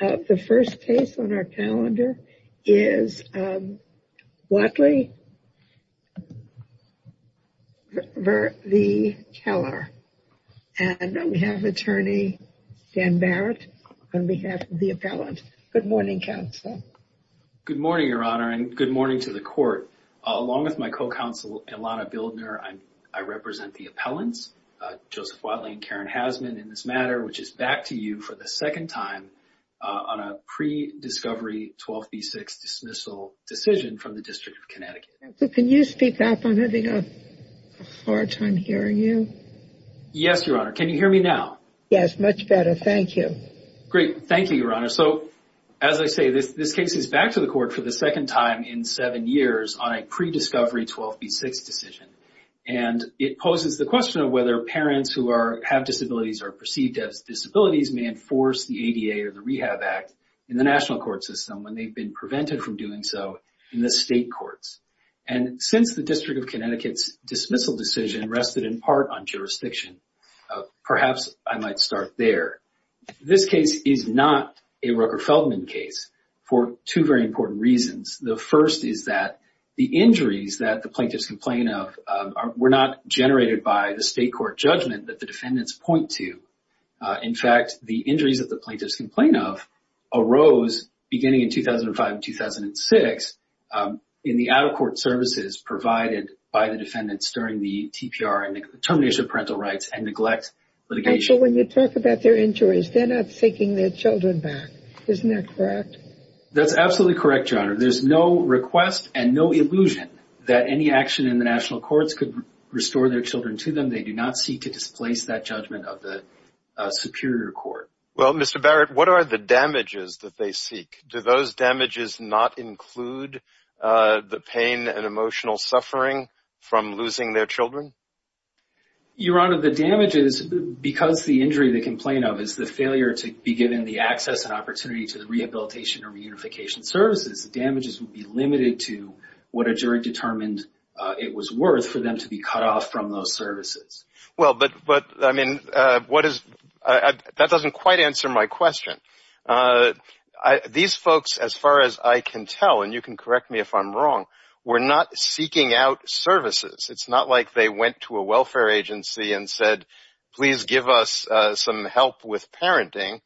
The first case on our calendar is Watley v. Keller, and we have attorney Dan Barrett on behalf of the appellant. Good morning, counsel. Good morning, Your Honor, and good morning to the court. Along with my co-counsel Ilana Bildner, I represent the appellants, Joseph Watley and Karen Hasman in this matter, which is back to you for the second time on a pre-discovery 12B6 dismissal decision from the District of Connecticut. Can you speak up? I'm having a hard time hearing you. Yes, Your Honor. Can you hear me now? Yes, much better. Thank you. Great. Thank you, Your Honor. So, as I say, this case is back to the court for the second time in seven years on a pre-discovery 12B6 decision, and it poses the question of whether parents who have disabilities or are perceived as disabilities may enforce the ADA or the Rehab Act in the national court system when they've been prevented from doing so in the state courts. And since the District of Connecticut's dismissal decision rested in part on jurisdiction, perhaps I might start there. This case is not a Rucker-Feldman case for two very important reasons. The first is that the injuries that the plaintiffs complain of were not generated by the state court judgment that the defendants point to. In fact, the injuries that the plaintiffs complain of arose beginning in 2005 and 2006 in the out-of-court services provided by the defendants during the TPR and termination of parental rights and neglect litigation. So when you talk about their injuries, they're not taking their children back. Isn't that correct? That's absolutely correct, Your Honor. There's no request and no illusion that any action in the national courts could restore their children to them. They do not seek to displace that judgment of the superior court. Well, Mr. Barrett, what are the damages that they seek? Do those damages not include the pain and emotional suffering from losing their children? Your Honor, the damages, because the injury they complain of is the failure to be given the access and opportunity to the rehabilitation or reunification services, the damages would be limited to what a jury determined it was worth for them to be cut off from those services. Well, but, I mean, that doesn't quite answer my question. These folks, as far as I can tell, and you can correct me if I'm wrong, were not seeking out services. It's not like they went to a welfare agency and said, please give us some help with parenting.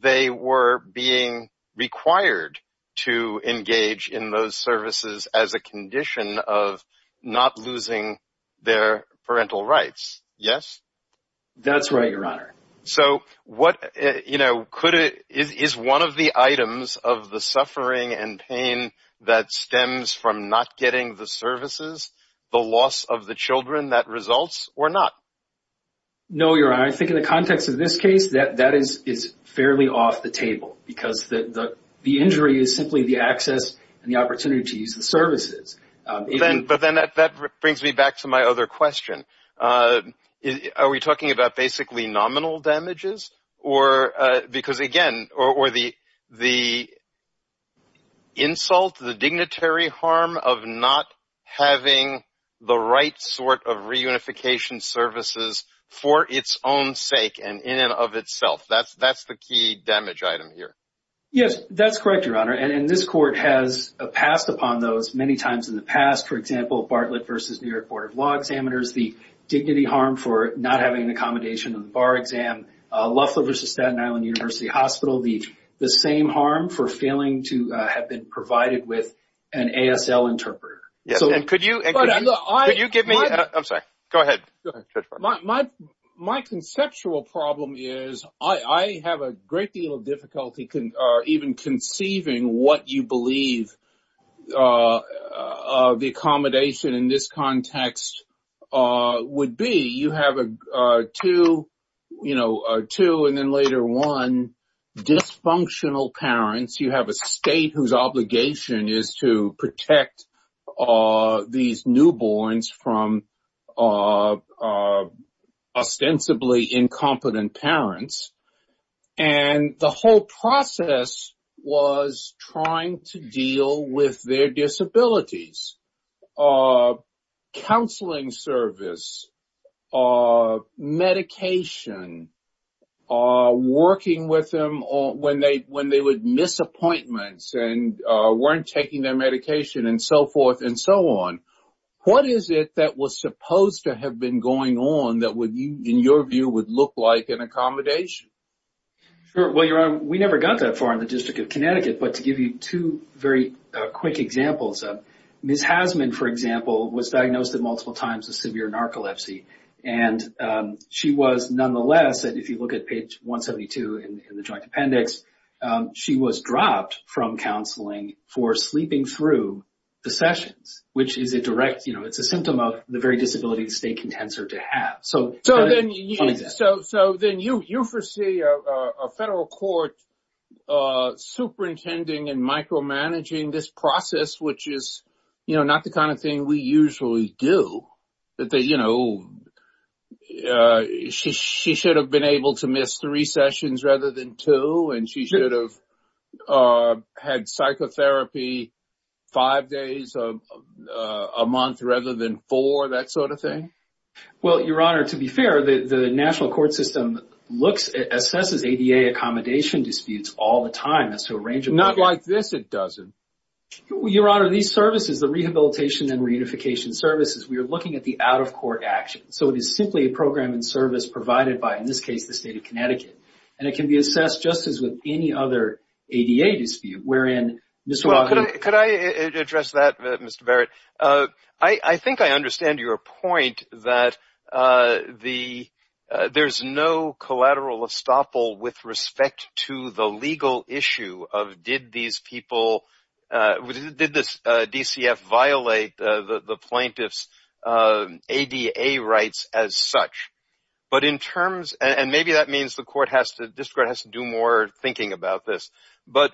They were being required to engage in those services as a condition of not losing their parental rights. Yes? That's right, Your Honor. So what, you know, is one of the items of the suffering and pain that stems from not getting the services the loss of the children that results or not? No, Your Honor. I think in the context of this case, that is fairly off the table because the injury is simply the access and the opportunity to use the services. But then that brings me back to my other question. Are we talking about basically nominal damages or because, again, or the insult, the dignitary harm of not having the right sort of reunification services for its own sake and in and of itself? That's the key damage item here. Yes, that's correct, Your Honor. And this court has passed upon those many times in the past. For example, Bartlett versus New York Court of Law examiners, the dignity harm for not having an accommodation on the bar exam. Loughlin versus Staten Island University Hospital, the the same harm for failing to have been provided with an ASL interpreter. Could you give me? I'm sorry. Go ahead. My conceptual problem is I have a great deal of difficulty even conceiving what you believe the accommodation in this context would be. You have a two, you know, two and then later one dysfunctional parents. You have a state whose obligation is to protect these newborns from ostensibly incompetent parents. And the whole process was trying to deal with their disabilities. Counseling service, medication, working with them when they when they would miss appointments and weren't taking their medication and so forth and so on. What is it that was supposed to have been going on that would be, in your view, would look like an accommodation? Well, you know, we never got that far in the District of Connecticut. But to give you two very quick examples of Ms. Hasman, for example, was diagnosed with multiple times of severe narcolepsy. And she was nonetheless. And if you look at page 172 in the joint appendix, she was dropped from counseling for sleeping through the sessions, which is a direct. You know, it's a symptom of the very disability the state contends her to have. So so then you you foresee a federal court superintending and micromanaging this process, which is not the kind of thing we usually do that. You know, she she should have been able to miss three sessions rather than two. And she should have had psychotherapy five days a month rather than four. Well, Your Honor, to be fair, the national court system looks at assesses ADA accommodation disputes all the time. So a range of not like this, it doesn't. Your Honor, these services, the rehabilitation and reunification services, we are looking at the out of court action. So it is simply a program and service provided by, in this case, the state of Connecticut. And it can be assessed just as with any other ADA dispute. Could I address that, Mr. Barrett? I think I understand your point that the there's no collateral estoppel with respect to the legal issue of did these people did this DCF violate the plaintiff's ADA rights as such. But in terms and maybe that means the court has to do more thinking about this. But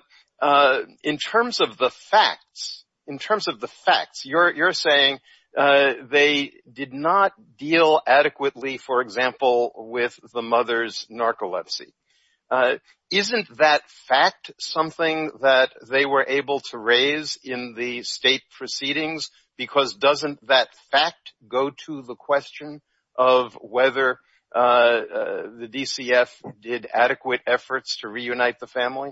in terms of the facts, in terms of the facts, you're saying they did not deal adequately, for example, with the mother's narcolepsy. Isn't that fact something that they were able to raise in the state proceedings? Because doesn't that fact go to the question of whether the DCF did adequate efforts to reunite the family?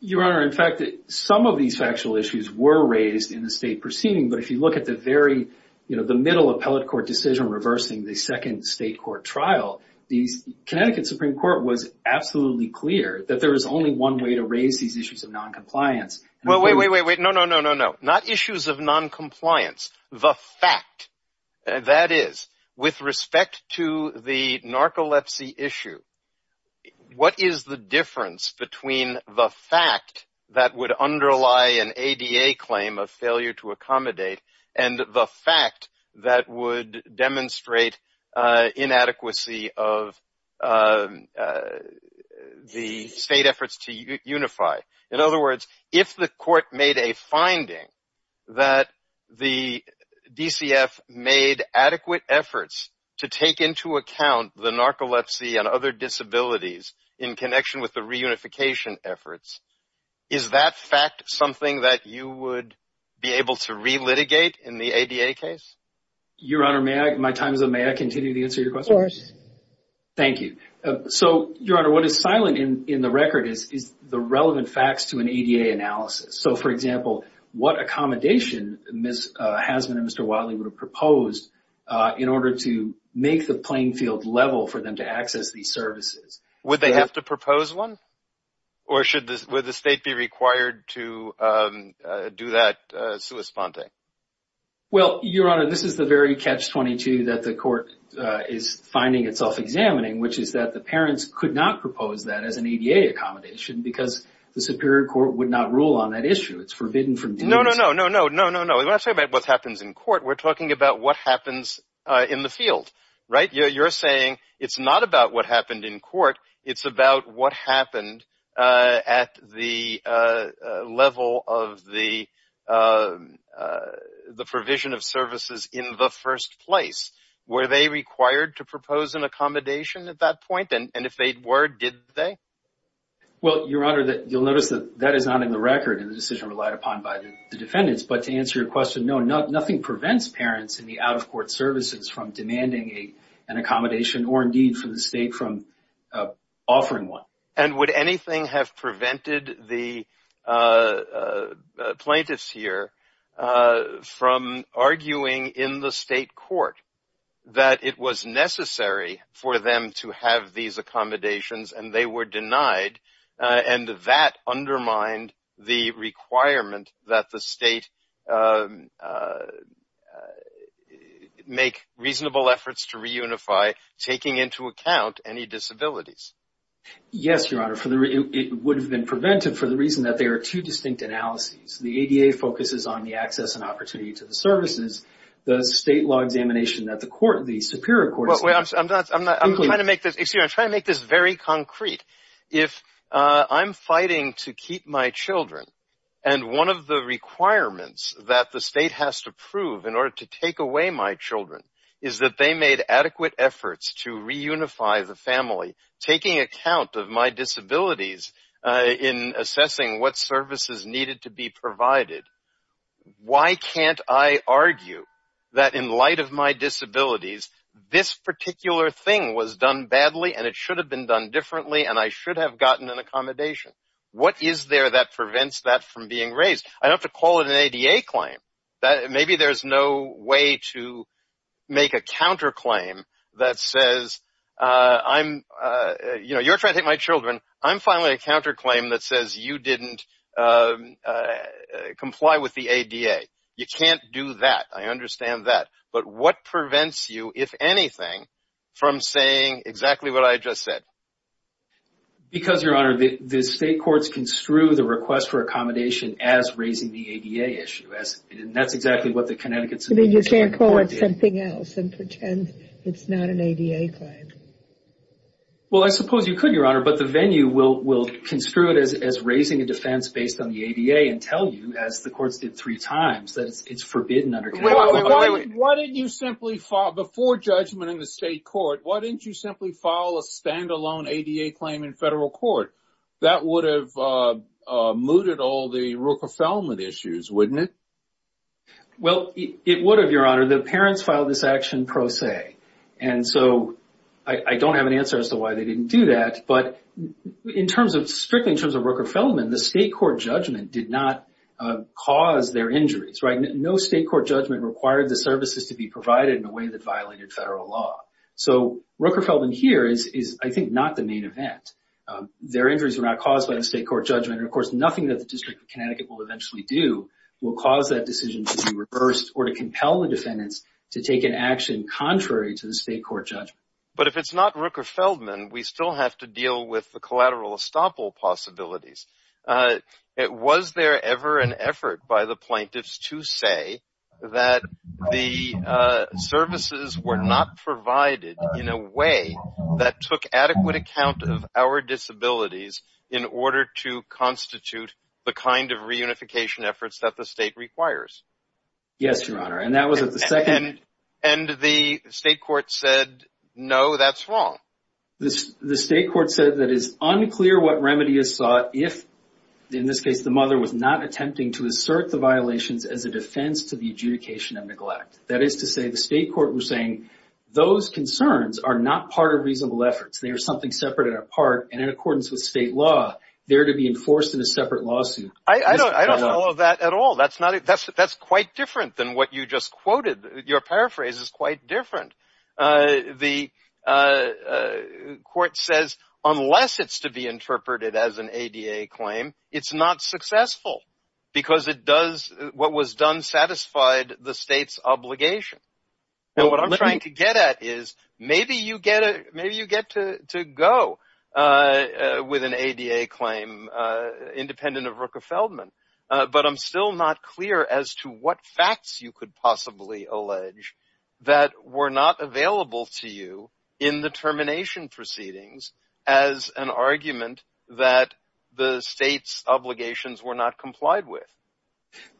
Your Honor, in fact, some of these factual issues were raised in the state proceeding. But if you look at the very, you know, the middle appellate court decision reversing the second state court trial, the Connecticut Supreme Court was absolutely clear that there is only one way to raise these issues of noncompliance. Well, wait, wait, wait, wait. No, no, no, no, no. Not issues of noncompliance. The fact that is with respect to the narcolepsy issue. What is the difference between the fact that would underlie an ADA claim of failure to accommodate and the fact that would demonstrate inadequacy of the state efforts to unify? In other words, if the court made a finding that the DCF made adequate efforts to take into account the narcolepsy and other disabilities in connection with the reunification efforts, is that fact something that you would be able to relitigate in the ADA case? Your Honor, my time is up. May I continue to answer your question? Go ahead. Thank you. So, Your Honor, what is silent in the record is the relevant facts to an ADA analysis. So, for example, what accommodation Ms. Hasman and Mr. Wadley would have proposed in order to make the playing field level for them to access these services? Would they have to propose one? Or would the state be required to do that sua sponte? Well, Your Honor, this is the very catch-22 that the court is finding itself examining, which is that the parents could not propose that as an ADA accommodation because the Superior Court would not rule on that issue. It's forbidden from doing so. No, no, no, no, no, no, no. We're not talking about what happens in court. We're talking about what happens in the field, right? You're saying it's not about what happened in court. It's about what happened at the level of the provision of services in the first place. Were they required to propose an accommodation at that point? And if they were, did they? Well, Your Honor, you'll notice that that is not in the record in the decision relied upon by the defendants. But to answer your question, no, nothing prevents parents in the out-of-court services from demanding an accommodation or, indeed, for the state from offering one. And would anything have prevented the plaintiffs here from arguing in the state court that it was necessary for them to have these accommodations and they were denied and that undermined the requirement that the state make reasonable efforts to reunify, taking into account any disabilities? Yes, Your Honor. It would have been prevented for the reason that there are two distinct analyses. The ADA focuses on the access and opportunity to the services. The state law examination that the Superior Court is doing. I'm trying to make this very concrete. If I'm fighting to keep my children and one of the requirements that the state has to prove in order to take away my children is that they made adequate efforts to reunify the family, taking account of my disabilities in assessing what services needed to be provided, why can't I argue that in light of my disabilities, this particular thing was done badly and it should have been done differently and I should have gotten an accommodation? What is there that prevents that from being raised? I don't have to call it an ADA claim. Maybe there's no way to make a counterclaim that says, you know, you're trying to take my children. I'm filing a counterclaim that says you didn't comply with the ADA. You can't do that. I understand that. But what prevents you, if anything, from saying exactly what I just said? Because, Your Honor, the state courts construe the request for accommodation as raising the ADA issue. And that's exactly what the Connecticut Supreme Court did. You can't call it something else and pretend it's not an ADA claim. Well, I suppose you could, Your Honor, but the venue will construe it as raising a defense based on the ADA and tell you, as the courts did three times, that it's forbidden under Connecticut. Before judgment in the state court, why didn't you simply file a standalone ADA claim in federal court? That would have mooted all the Rooker-Feldman issues, wouldn't it? Well, it would have, Your Honor. The parents filed this action pro se. And so I don't have an answer as to why they didn't do that. But strictly in terms of Rooker-Feldman, the state court judgment did not cause their injuries. No state court judgment required the services to be provided in a way that violated federal law. So Rooker-Feldman here is, I think, not the main event. Their injuries were not caused by the state court judgment. And, of course, nothing that the District of Connecticut will eventually do will cause that decision to be reversed or to compel the defendants to take an action contrary to the state court judgment. But if it's not Rooker-Feldman, we still have to deal with the collateral estoppel possibilities. Was there ever an effort by the plaintiffs to say that the services were not provided in a way that took adequate account of our disabilities in order to constitute the kind of reunification efforts that the state requires? Yes, Your Honor. And that was at the second… And the state court said, no, that's wrong. The state court said that it's unclear what remedy is sought if, in this case, the mother was not attempting to assert the violations as a defense to the adjudication of neglect. That is to say, the state court was saying those concerns are not part of reasonable efforts. They are something separate and apart, and in accordance with state law, they are to be enforced in a separate lawsuit. I don't follow that at all. That's quite different than what you just quoted. Your paraphrase is quite different. The court says, unless it's to be interpreted as an ADA claim, it's not successful because it does what was done satisfied the state's obligation. And what I'm trying to get at is maybe you get to go with an ADA claim independent of Rooker-Feldman, but I'm still not clear as to what facts you could possibly allege that were not available to you in the termination proceedings as an argument that the state's obligations were not complied with.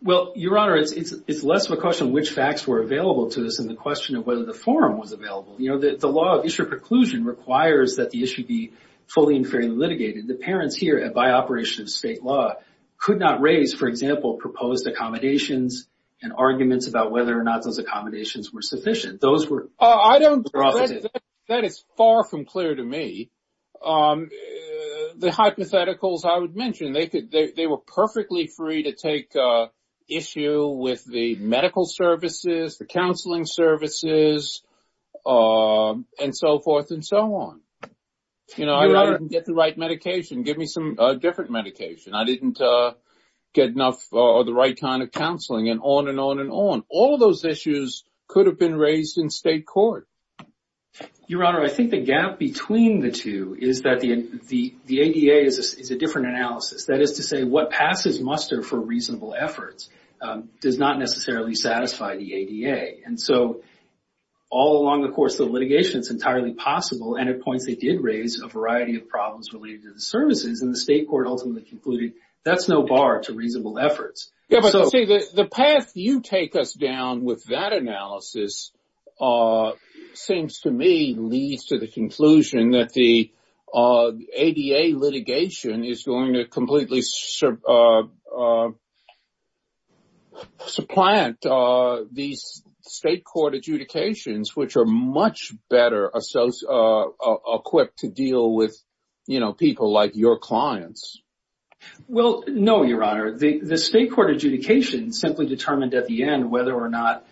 Well, Your Honor, it's less of a question of which facts were available to us than the question of whether the forum was available. You know, the law of issue preclusion requires that the issue be fully and fairly litigated. The parents here, by operation of state law, could not raise, for example, proposed accommodations and arguments about whether or not those accommodations were sufficient. That is far from clear to me. The hypotheticals I would mention, they were perfectly free to take issue with the medical services, the counseling services, and so forth and so on. You know, I didn't get the right medication. Give me some different medication. I didn't get enough or the right kind of counseling and on and on and on. All of those issues could have been raised in state court. Your Honor, I think the gap between the two is that the ADA is a different analysis. That is to say, what passes muster for reasonable efforts does not necessarily satisfy the ADA. And so all along the course of the litigation, it's entirely possible. And at points, they did raise a variety of problems related to the services, and the state court ultimately concluded that's no bar to reasonable efforts. The path you take us down with that analysis seems to me leads to the conclusion that the ADA litigation is going to completely supplant these state court adjudications, which are much better equipped to deal with people like your clients. Well, no, Your Honor. The state court adjudication simply determined at the end whether or not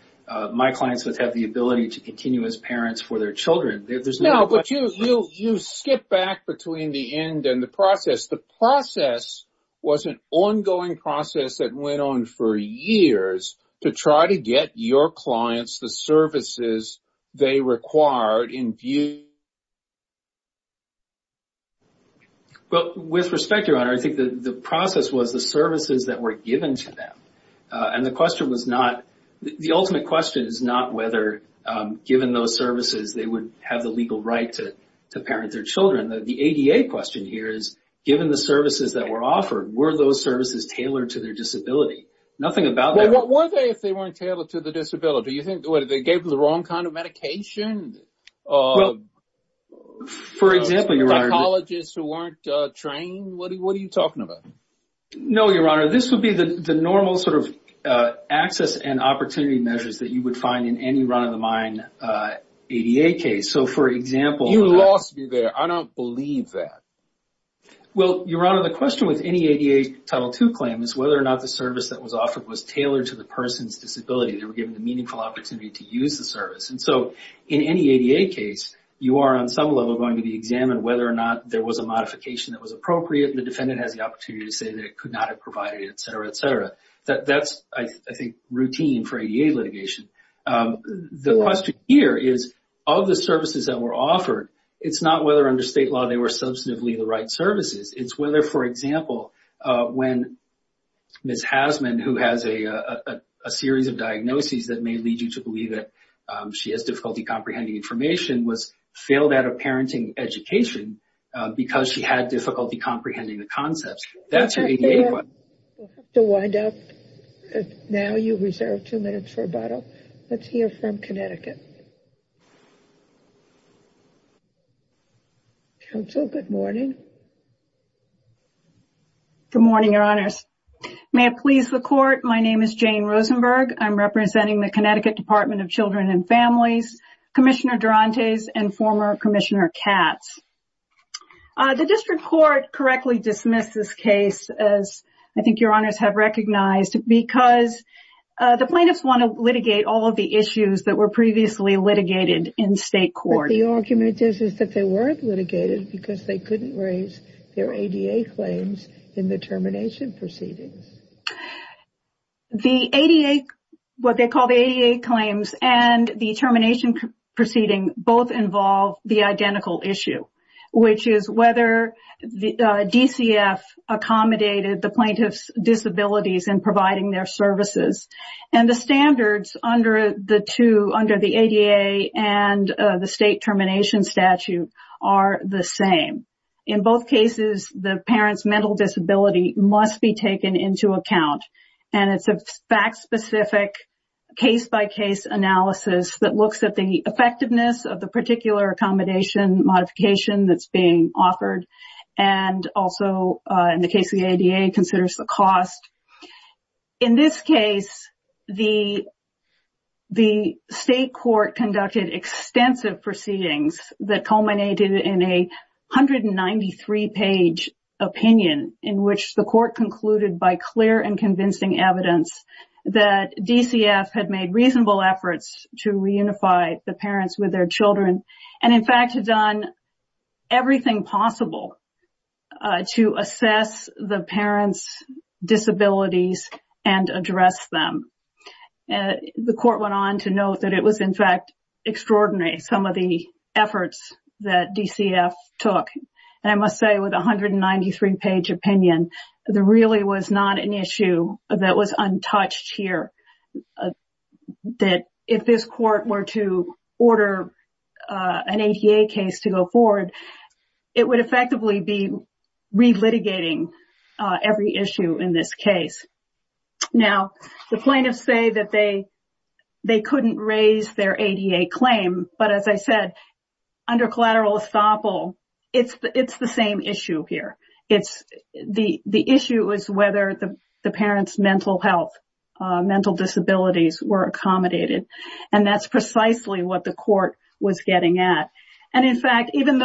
my clients would have the ability to continue as parents for their children. No, but you skip back between the end and the process. The process was an ongoing process that went on for years to try to get your clients the services they required in view. Well, with respect, Your Honor, I think the process was the services that were given to them. And the question was not – the ultimate question is not whether, given those services, they would have the legal right to parent their children. The ADA question here is, given the services that were offered, were those services tailored to their disability? Nothing about that. Well, what were they if they weren't tailored to the disability? Well, do you think they gave them the wrong kind of medication? Well, for example, Your Honor – Psychologists who weren't trained? What are you talking about? No, Your Honor. This would be the normal sort of access and opportunity measures that you would find in any run-of-the-mine ADA case. So, for example – You lost me there. I don't believe that. Well, Your Honor, the question with any ADA Title II claim is whether or not the service that was offered was tailored to the person's disability. They were given the meaningful opportunity to use the service. And so, in any ADA case, you are on some level going to be examined whether or not there was a modification that was appropriate. The defendant has the opportunity to say that it could not have provided it, et cetera, et cetera. That's, I think, routine for ADA litigation. The question here is, of the services that were offered, it's not whether under state law they were substantively the right services. It's whether, for example, when Ms. Hasman, who has a series of diagnoses that may lead you to believe that she has difficulty comprehending information, was failed at a parenting education because she had difficulty comprehending the concepts. That's an ADA claim. We'll have to wind up. Now you reserve two minutes for rebuttal. Let's hear from Connecticut. Counsel, good morning. Good morning, Your Honors. May it please the Court, my name is Jane Rosenberg. I'm representing the Connecticut Department of Children and Families, Commissioner Durantes, and former Commissioner Katz. The district court correctly dismissed this case, as I think Your Honors have recognized, because the plaintiffs want to litigate all of the issues that were previously litigated in state court. But the argument is that they weren't litigated because they couldn't raise their ADA claims in the termination proceedings. The ADA, what they call the ADA claims and the termination proceeding both involve the identical issue, which is whether DCF accommodated the plaintiff's disabilities in providing their services. And the standards under the two, under the ADA and the state termination statute, are the same. In both cases, the parent's mental disability must be taken into account. And it's a fact-specific, case-by-case analysis that looks at the effectiveness of the particular accommodation modification that's being offered. And also, in the case of the ADA, considers the cost. In this case, the state court conducted extensive proceedings that culminated in a 193-page opinion, in which the court concluded by clear and convincing evidence that DCF had made reasonable efforts to reunify the parents with their children and, in fact, had done everything possible to assess the parents' disabilities and address them. The court went on to note that it was, in fact, extraordinary, some of the efforts that DCF took. And I must say, with a 193-page opinion, there really was not an issue that was untouched here. If this court were to order an ADA case to go forward, it would effectively be relitigating every issue in this case. Now, the plaintiffs say that they couldn't raise their ADA claim. But as I said, under collateral estoppel, it's the same issue here. The issue is whether the parents' mental health, mental disabilities were accommodated. And that's precisely what the court was getting at. And, in fact, even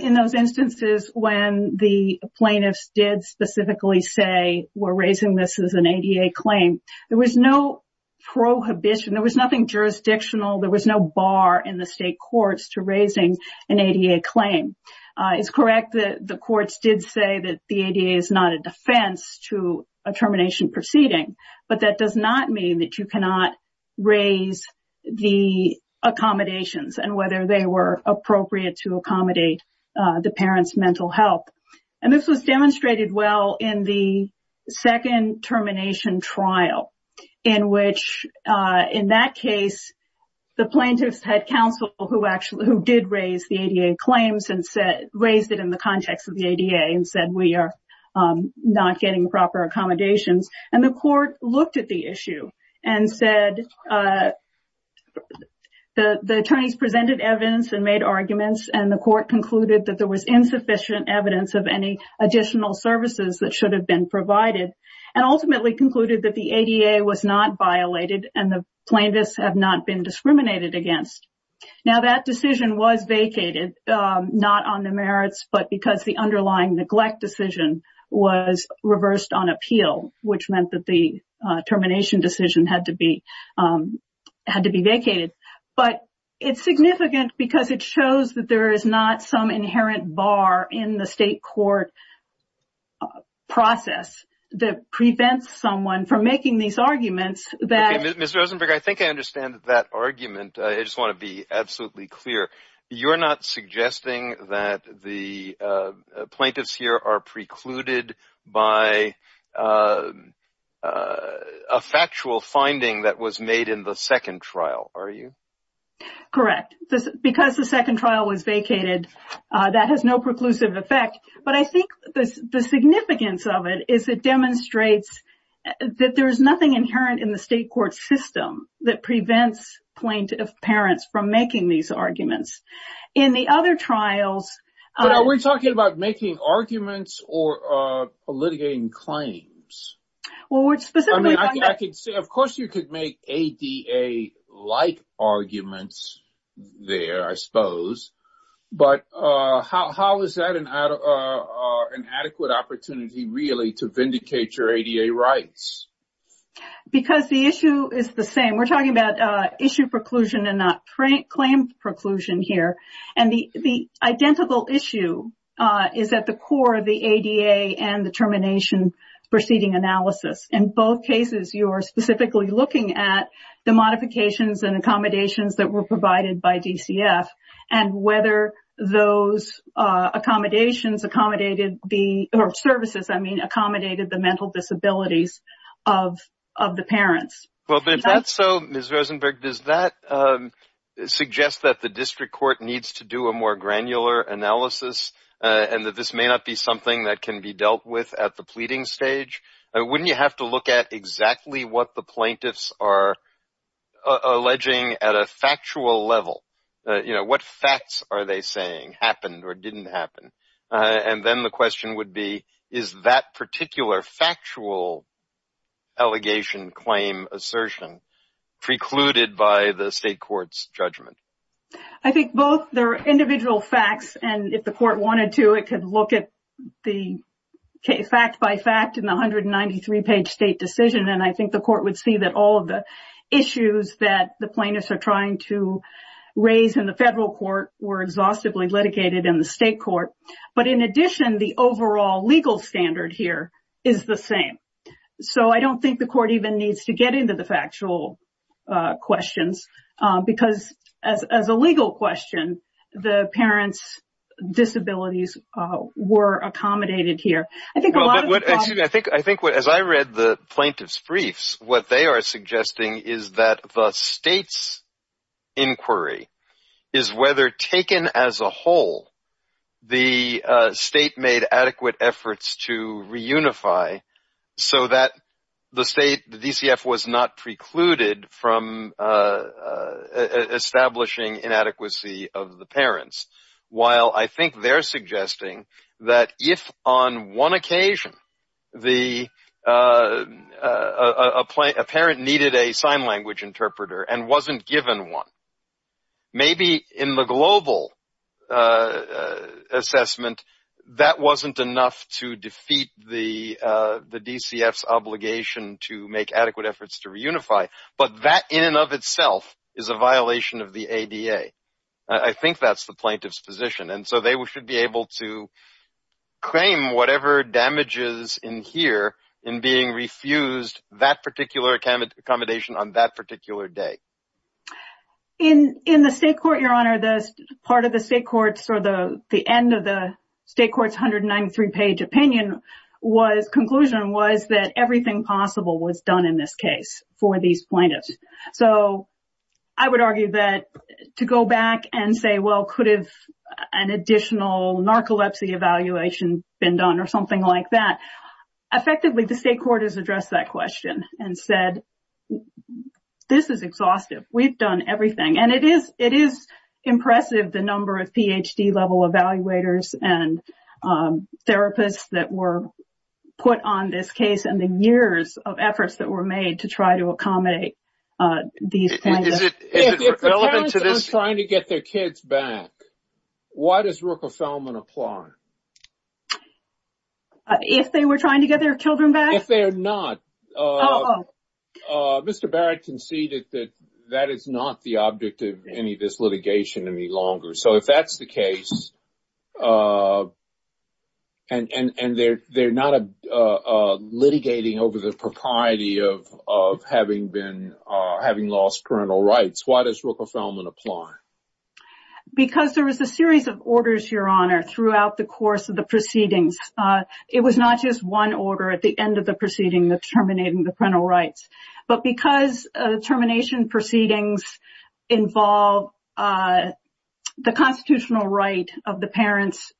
in those instances when the plaintiffs did specifically say, we're raising this as an ADA claim, there was no prohibition, there was nothing jurisdictional, there was no bar in the state courts to raising an ADA claim. It's correct that the courts did say that the ADA is not a defense to a termination proceeding. But that does not mean that you cannot raise the accommodations and whether they were appropriate to accommodate the parents' mental health. And this was demonstrated well in the second termination trial, in which, in that case, the plaintiffs had counsel who did raise the ADA claims and raised it in the context of the ADA and said, we are not getting proper accommodations. And the court looked at the issue and said the attorneys presented evidence and made arguments, and the court concluded that there was insufficient evidence of any additional services that should have been provided and ultimately concluded that the ADA was not violated and the plaintiffs had not been discriminated against. Now, that decision was vacated, not on the merits, but because the underlying neglect decision was reversed on appeal. Which meant that the termination decision had to be vacated. But it's significant because it shows that there is not some inherent bar in the state court process that prevents someone from making these arguments that... Okay, Ms. Rosenberger, I think I understand that argument. I just want to be absolutely clear. You're not suggesting that the plaintiffs here are precluded by a factual finding that was made in the second trial, are you? Correct. Because the second trial was vacated, that has no preclusive effect. But I think the significance of it is it demonstrates that there is nothing inherent in the state court system that prevents plaintiff parents from making these arguments. In the other trials... But are we talking about making arguments or litigating claims? Well, we're specifically talking about... I mean, of course you could make ADA-like arguments there, I suppose. But how is that an adequate opportunity, really, to vindicate your ADA rights? Because the issue is the same. We're talking about issue preclusion and not claim preclusion here. And the identical issue is at the core of the ADA and the termination proceeding analysis. In both cases, you're specifically looking at the modifications and accommodations that were provided by DCF and whether those services accommodated the mental disabilities of the parents. Well, if that's so, Ms. Rosenberg, does that suggest that the district court needs to do a more granular analysis and that this may not be something that can be dealt with at the pleading stage? Wouldn't you have to look at exactly what the plaintiffs are alleging at a factual level? What facts are they saying happened or didn't happen? And then the question would be, is that particular factual allegation, claim, assertion precluded by the state court's judgment? I think both their individual facts and if the court wanted to, it could look at the fact-by-fact in the 193-page state decision. And I think the court would see that all of the issues that the plaintiffs are trying to raise in the federal court were exhaustively litigated in the state court. But in addition, the overall legal standard here is the same. So I don't think the court even needs to get into the factual questions because as a legal question, the parents' disabilities were accommodated here. As I read the plaintiffs' briefs, what they are suggesting is that the state's inquiry is whether taken as a whole, the state made adequate efforts to reunify so that the state, the DCF, was not precluded from establishing inadequacy of the parents. While I think they're suggesting that if on one occasion a parent needed a sign language interpreter and wasn't given one, maybe in the global assessment, that wasn't enough to defeat the DCF's obligation to make adequate efforts to reunify. But that in and of itself is a violation of the ADA. I think that's the plaintiff's position. And so they should be able to claim whatever damages in here in being refused that particular accommodation on that particular day. In the state court, Your Honor, part of the state court's or the end of the state court's 193-page opinion was, conclusion was that everything possible was done in this case for these plaintiffs. So I would argue that to go back and say, well, could have an additional narcolepsy evaluation been done or something like that? Effectively, the state court has addressed that question and said, this is exhaustive. We've done everything. And it is impressive the number of Ph.D. level evaluators and therapists that were put on this case and the years of efforts that were made to try to accommodate these parents. If the parents are trying to get their kids back, why does Ruckelselman apply? If they were trying to get their children back? If they're not, Mr. Barrett can see that that is not the object of any of this litigation any longer. So if that's the case and they're not litigating over the propriety of having been having lost parental rights, why does Ruckelselman apply? Because there was a series of orders, Your Honor, throughout the course of the proceedings. It was not just one order at the end of the proceeding that terminated the parental rights. But because termination proceedings involve the constitutional right of the parents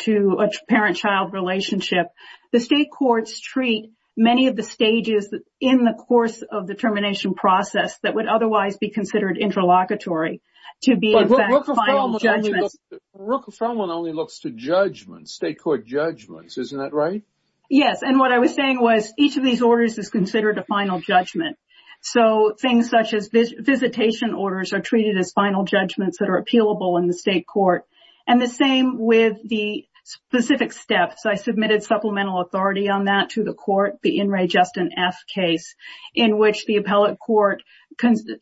to a parent-child relationship, the state courts treat many of the stages in the course of the termination process that would otherwise be considered interlocutory to be in fact final judgments. But Ruckelselman only looks to state court judgments. Isn't that right? Yes. And what I was saying was each of these orders is considered a final judgment. So things such as visitation orders are treated as final judgments that are appealable in the state court. And the same with the specific steps. I submitted supplemental authority on that to the court, the In re Justin F. case, in which the appellate court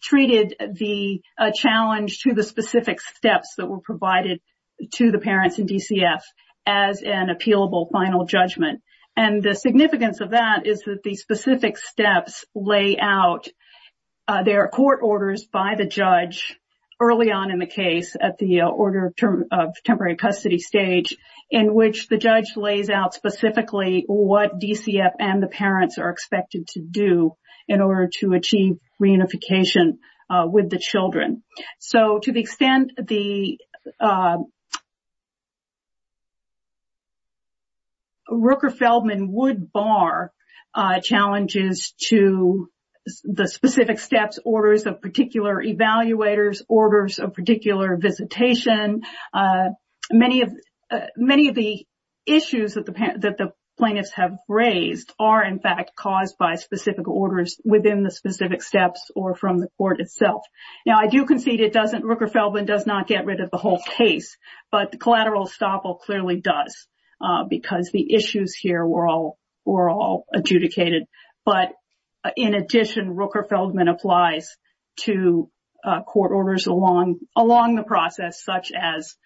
treated the challenge to the specific steps that were provided to the parents in DCF as an appealable final judgment. And the significance of that is that the specific steps lay out their court orders by the judge early on in the case at the order of temporary custody stage, in which the judge lays out specifically what DCF and the parents are expected to do in order to achieve reunification with the children. So to the extent the Ruckelselman would bar challenges to the specific steps, orders of particular evaluators, orders of particular visitation. Many of the issues that the plaintiffs have raised are in fact caused by specific orders within the specific steps or from the court itself. Now, I do concede it doesn't Ruckelselman does not get rid of the whole case. But the collateral estoppel clearly does because the issues here were all were all adjudicated. But in addition, Ruckelselman applies to court orders along along the process, such as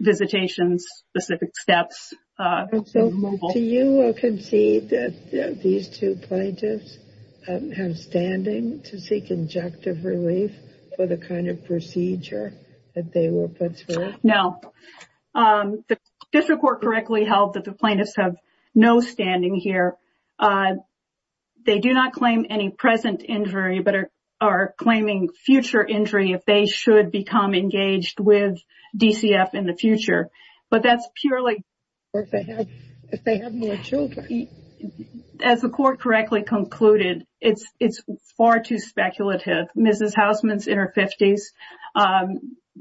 visitations, specific steps. So do you concede that these two plaintiffs have standing to seek injunctive relief for the kind of procedure that they were put through? No, the district court correctly held that the plaintiffs have no standing here. They do not claim any present injury, but are claiming future injury if they should become engaged with DCF in the future. But that's purely if they have more children. As the court correctly concluded, it's far too speculative. Mrs. Houseman's in her 50s.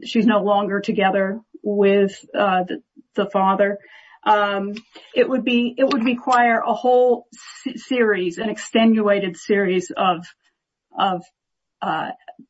She's no longer together with the father. It would be it would require a whole series, an extenuated series of of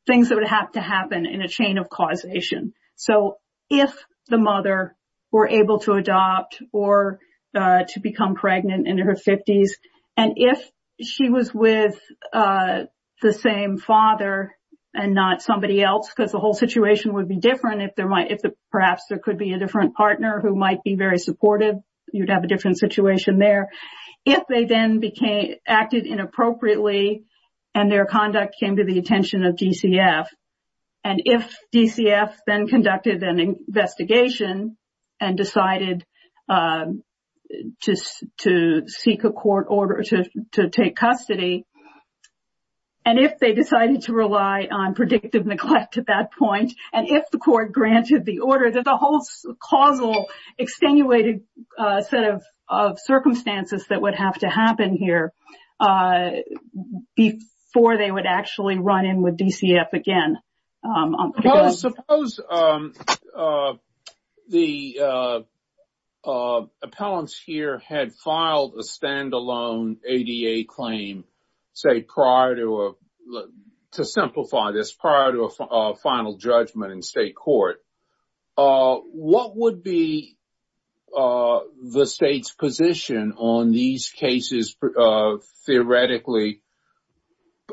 things that would have to happen in a chain of causation. So if the mother were able to adopt or to become pregnant in her 50s, and if she was with the same father and not somebody else, because the whole situation would be different if there might if perhaps there could be a different partner who might be very supportive. You'd have a different situation there if they then became acted inappropriately and their conduct came to the attention of DCF. And if DCF then conducted an investigation and decided to seek a court order to take custody. And if they decided to rely on predictive neglect at that point, and if the court granted the order, there's a whole causal, extenuated set of circumstances that would have to happen here before they would actually run in with DCF again. Suppose the appellants here had filed a standalone ADA claim, say, prior to to simplify this prior to a final judgment in state court. What would be the state's position on these cases theoretically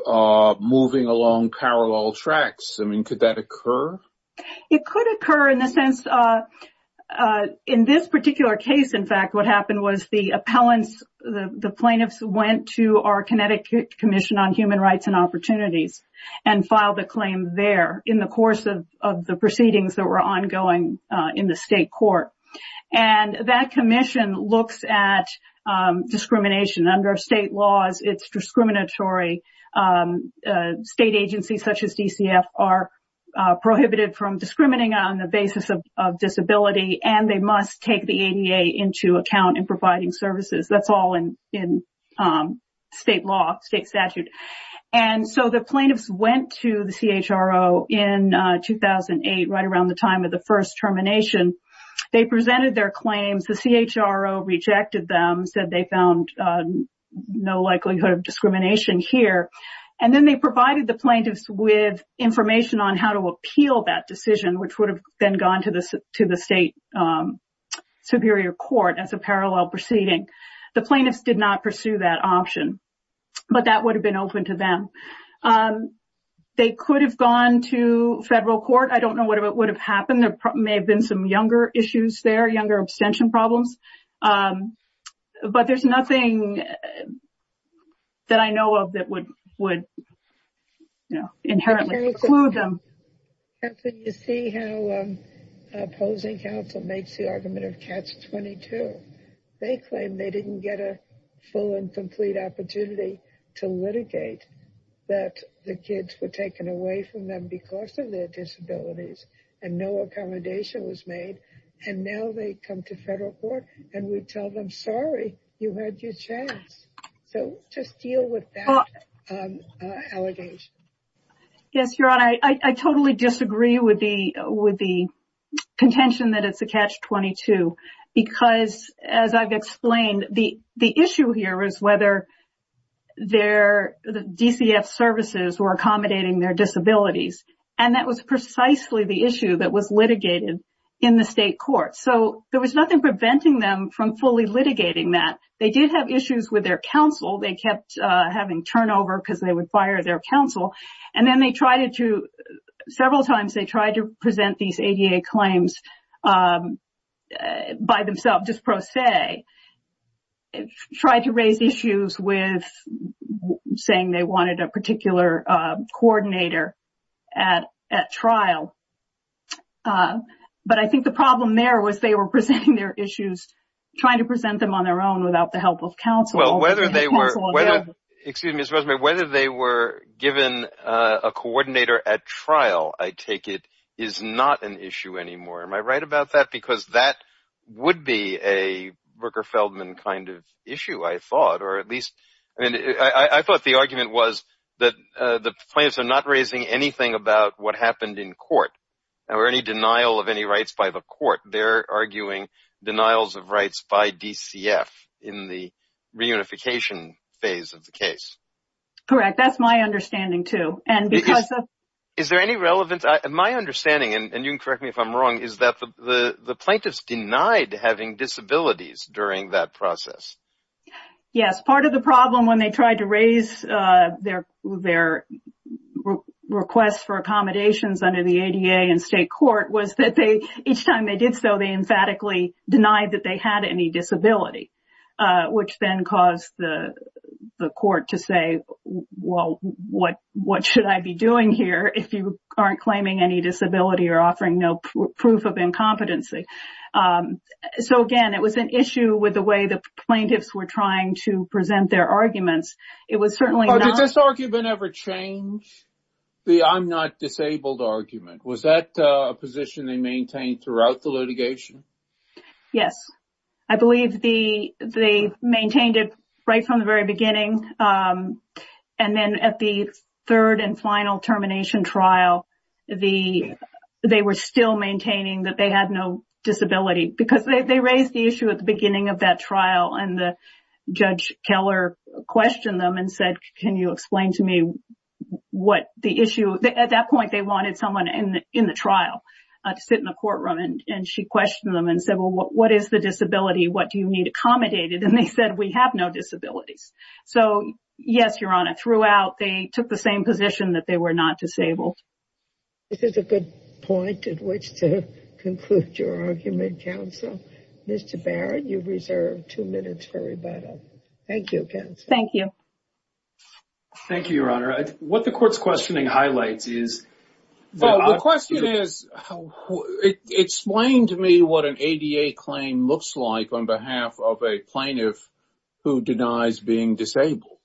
moving along parallel tracks? I mean, could that occur? It could occur in the sense in this particular case. In fact, what happened was the appellants, the plaintiffs, went to our Connecticut Commission on Human Rights and Opportunities and filed a claim there in the course of the proceedings that were ongoing in the state court. And that commission looks at discrimination under state laws. It's discriminatory. State agencies such as DCF are prohibited from discriminating on the basis of disability, and they must take the ADA into account in providing services. That's all in state law, state statute. And so the plaintiffs went to the CHRO in 2008, right around the time of the first termination. They presented their claims. The CHRO rejected them, said they found no likelihood of discrimination here. And then they provided the plaintiffs with information on how to appeal that decision, which would have then gone to the state superior court as a parallel proceeding. The plaintiffs did not pursue that option, but that would have been open to them. They could have gone to federal court. I don't know what would have happened. There may have been some younger issues there, younger abstention problems. But there's nothing that I know of that would inherently exclude them. You see how opposing counsel makes the argument of catch 22. They claim they didn't get a full and complete opportunity to litigate, that the kids were taken away from them because of their disabilities and no accommodation was made. And now they come to federal court and we tell them, sorry, you had your chance. So just deal with that allegation. Yes, Your Honor, I totally disagree with the contention that it's a catch 22. Because as I've explained, the issue here is whether the DCF services were accommodating their disabilities. And that was precisely the issue that was litigated in the state court. So there was nothing preventing them from fully litigating that. They did have issues with their counsel. They kept having turnover because they would fire their counsel. And then they tried to, several times they tried to present these ADA claims by themselves, just pro se. Tried to raise issues with saying they wanted a particular coordinator at trial. But I think the problem there was they were presenting their issues, trying to present them on their own without the help of counsel. Well, whether they were given a coordinator at trial, I take it, is not an issue anymore. Am I right about that? Because that would be a Rooker-Feldman kind of issue, I thought. I thought the argument was that the plaintiffs are not raising anything about what happened in court, or any denial of any rights by the court. They're arguing denials of rights by DCF in the reunification phase of the case. Correct. That's my understanding, too. Is there any relevance? My understanding, and you can correct me if I'm wrong, is that the plaintiffs denied having disabilities during that process. Yes, part of the problem when they tried to raise their requests for accommodations under the ADA in state court was that each time they did so, they emphatically denied that they had any disability, which then caused the court to say, well, what should I be doing here if you aren't claiming any disability or offering no proof of incompetency? So, again, it was an issue with the way the plaintiffs were trying to present their arguments. Did this argument ever change, the I'm not disabled argument? Was that a position they maintained throughout the litigation? Yes, I believe they maintained it right from the very beginning. And then at the third and final termination trial, they were still maintaining that they had no disability because they raised the issue at the beginning of that trial. And Judge Keller questioned them and said, can you explain to me what the issue? At that point, they wanted someone in the trial to sit in the courtroom. And she questioned them and said, well, what is the disability? What do you need accommodated? And they said, we have no disabilities. So, yes, Your Honor, throughout, they took the same position that they were not disabled. This is a good point at which to conclude your argument, counsel. Mr. Barrett, you reserve two minutes for rebuttal. Thank you, counsel. Thank you. Thank you, Your Honor. What the court's questioning highlights is. The question is, explain to me what an ADA claim looks like on behalf of a plaintiff who denies being disabled.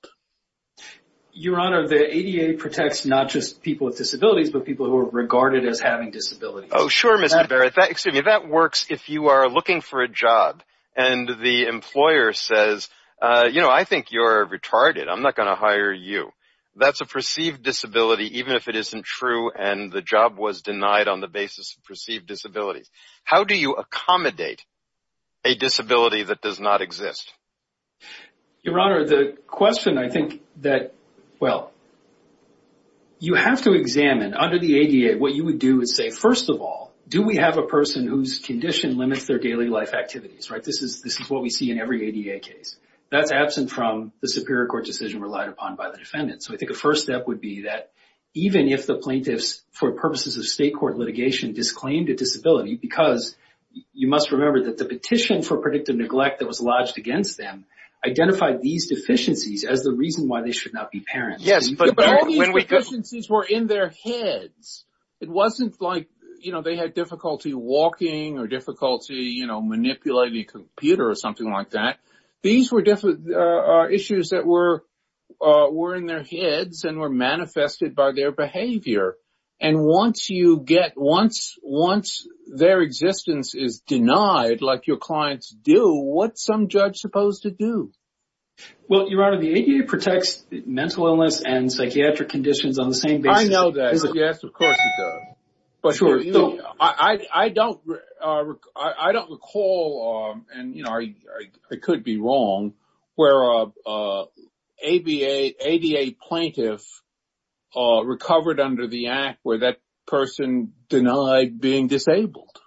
Your Honor, the ADA protects not just people with disabilities, but people who are regarded as having disabilities. Oh, sure, Mr. Barrett. That works if you are looking for a job and the employer says, you know, I think you're retarded. I'm not going to hire you. That's a perceived disability even if it isn't true and the job was denied on the basis of perceived disabilities. How do you accommodate a disability that does not exist? Your Honor, the question I think that, well, you have to examine under the ADA what you would do is say, first of all, do we have a person whose condition limits their daily life activities, right? This is what we see in every ADA case. That's absent from the superior court decision relied upon by the defendant. So I think the first step would be that even if the plaintiffs, for purposes of state court litigation, disclaimed a disability because you must remember that the petition for predictive neglect that was lodged against them identified these deficiencies as the reason why they should not be parents. Yes, but all these deficiencies were in their heads. It wasn't like, you know, they had difficulty walking or difficulty, you know, manipulating a computer or something like that. These were issues that were in their heads and were manifested by their behavior. And once you get, once their existence is denied like your clients do, what's some judge supposed to do? Well, Your Honor, the ADA protects mental illness and psychiatric conditions on the same basis. I know that. Yes, of course it does. But, you know, I don't recall, and, you know, I could be wrong, where an ADA plaintiff recovered under the act where that person denied being disabled.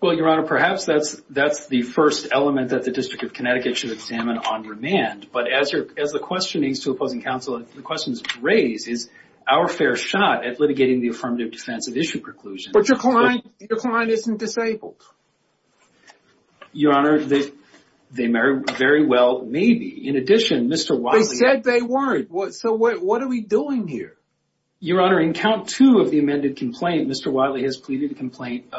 Well, Your Honor, perhaps that's the first element that the District of Connecticut should examine on demand. But as the questionings to opposing counsel, the questions raised is our fair shot at litigating the affirmative defense of issue preclusion. But your client isn't disabled. Your Honor, they very well may be. In addition, Mr. Wiley... They said they weren't. So what are we doing here? Your Honor, in count two of the amended complaint, Mr. Wiley has pleaded a complaint,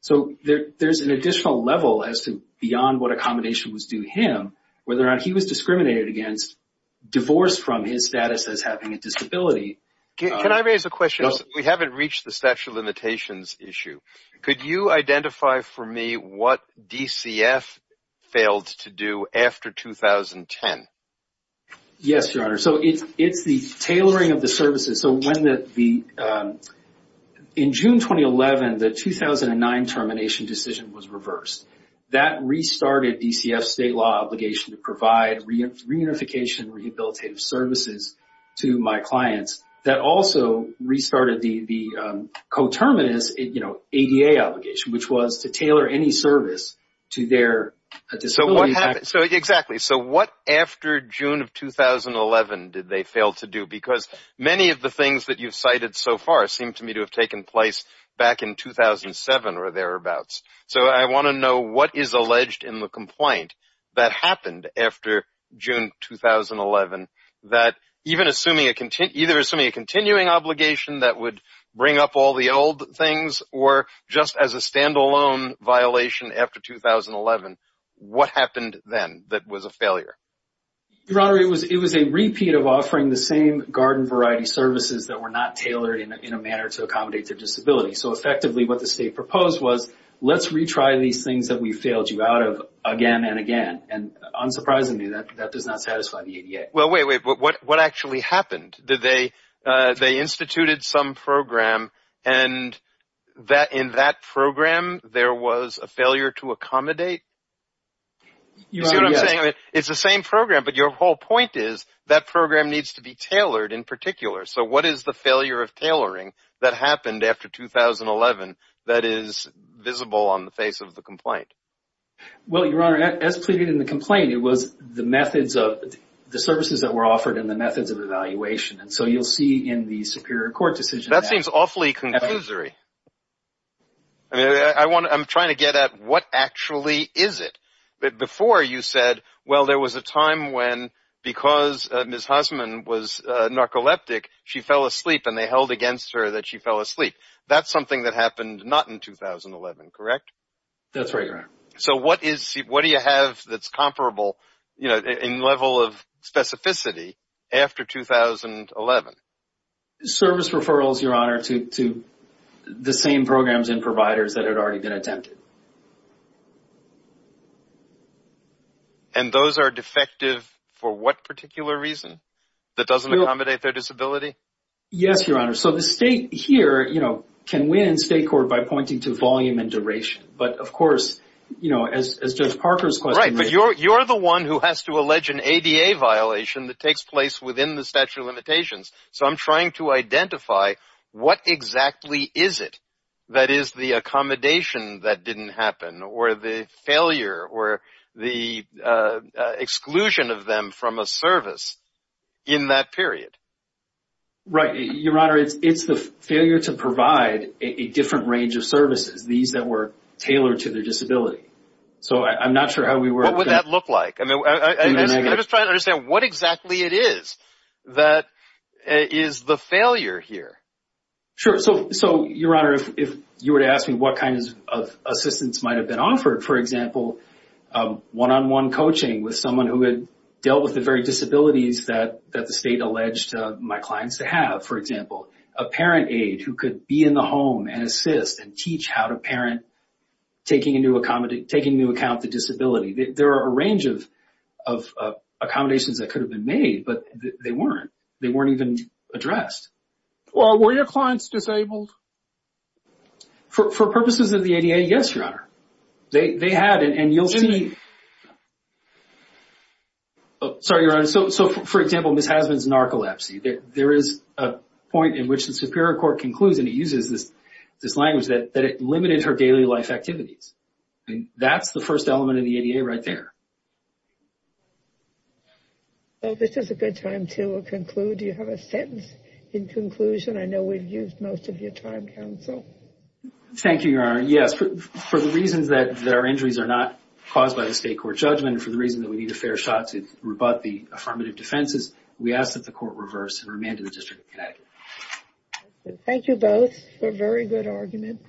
So there's an additional level as to beyond what accommodation was due him, whether or not he was discriminated against, divorced from his status as having a disability. Can I raise a question? We haven't reached the statute of limitations issue. Could you identify for me what DCF failed to do after 2010? Yes, Your Honor. So it's the tailoring of the services. So in June 2011, the 2009 termination decision was reversed. That restarted DCF's state law obligation to provide reunification rehabilitative services to my clients. That also restarted the co-terminus ADA obligation, which was to tailor any service to their disability. Exactly. So what after June of 2011 did they fail to do? Because many of the things that you've cited so far seem to me to have taken place back in 2007 or thereabouts. So I want to know what is alleged in the complaint that happened after June 2011, that even assuming a continuing obligation that would bring up all the old things, or just as a standalone violation after 2011, what happened then that was a failure? Your Honor, it was a repeat of offering the same garden variety services that were not tailored in a manner to accommodate their disability. So effectively what the state proposed was, let's retry these things that we failed you out of again and again. And unsurprisingly, that does not satisfy the ADA. Well, wait, wait. What actually happened? They instituted some program and in that program there was a failure to accommodate? You see what I'm saying? It's the same program. But your whole point is that program needs to be tailored in particular. So what is the failure of tailoring that happened after 2011 that is visible on the face of the complaint? Well, Your Honor, as pleaded in the complaint, it was the methods of, the services that were offered and the methods of evaluation. And so you'll see in the Superior Court decision. That seems awfully conclusory. I'm trying to get at what actually is it. Before you said, well, there was a time when because Ms. Hussman was narcoleptic, she fell asleep and they held against her that she fell asleep. That's something that happened not in 2011, correct? That's right, Your Honor. So what do you have that's comparable in level of specificity after 2011? Service referrals, Your Honor, to the same programs and providers that had already been attempted. And those are defective for what particular reason? That doesn't accommodate their disability? Yes, Your Honor. So the state here, you know, can win state court by pointing to volume and duration. But of course, you know, as Judge Parker's question. Right, but you're the one who has to allege an ADA violation that takes place within the statute of limitations. So I'm trying to identify what exactly is it that is the accommodation that didn't happen or the failure or the exclusion of them from a service in that period. Right. Your Honor, it's the failure to provide a different range of services, these that were tailored to their disability. So I'm not sure how we work. What would that look like? I mean, I'm just trying to understand what exactly it is that is the failure here. Sure. So, Your Honor, if you were to ask me what kind of assistance might have been offered, for example, one-on-one coaching with someone who had dealt with the very disabilities that the state alleged my clients to have, for example, a parent aide who could be in the home and assist and teach how to parent, taking into account the disability. There are a range of accommodations that could have been made, but they weren't. They weren't even addressed. Well, were your clients disabled? For purposes of the ADA, yes, Your Honor. They had, and you'll see. Sorry, Your Honor. So, for example, Ms. Hasman's narcolepsy. There is a point in which the Superior Court concludes, and it uses this language, that it limited her daily life activities. That's the first element of the ADA right there. Well, this is a good time to conclude. Do you have a sentence in conclusion? I know we've used most of your time, counsel. Thank you, Your Honor. Your Honor, yes, for the reasons that our injuries are not caused by the state court judgment and for the reason that we need a fair shot to rebut the affirmative defenses, we ask that the court reverse and remand to the District of Connecticut. Thank you both for a very good argument.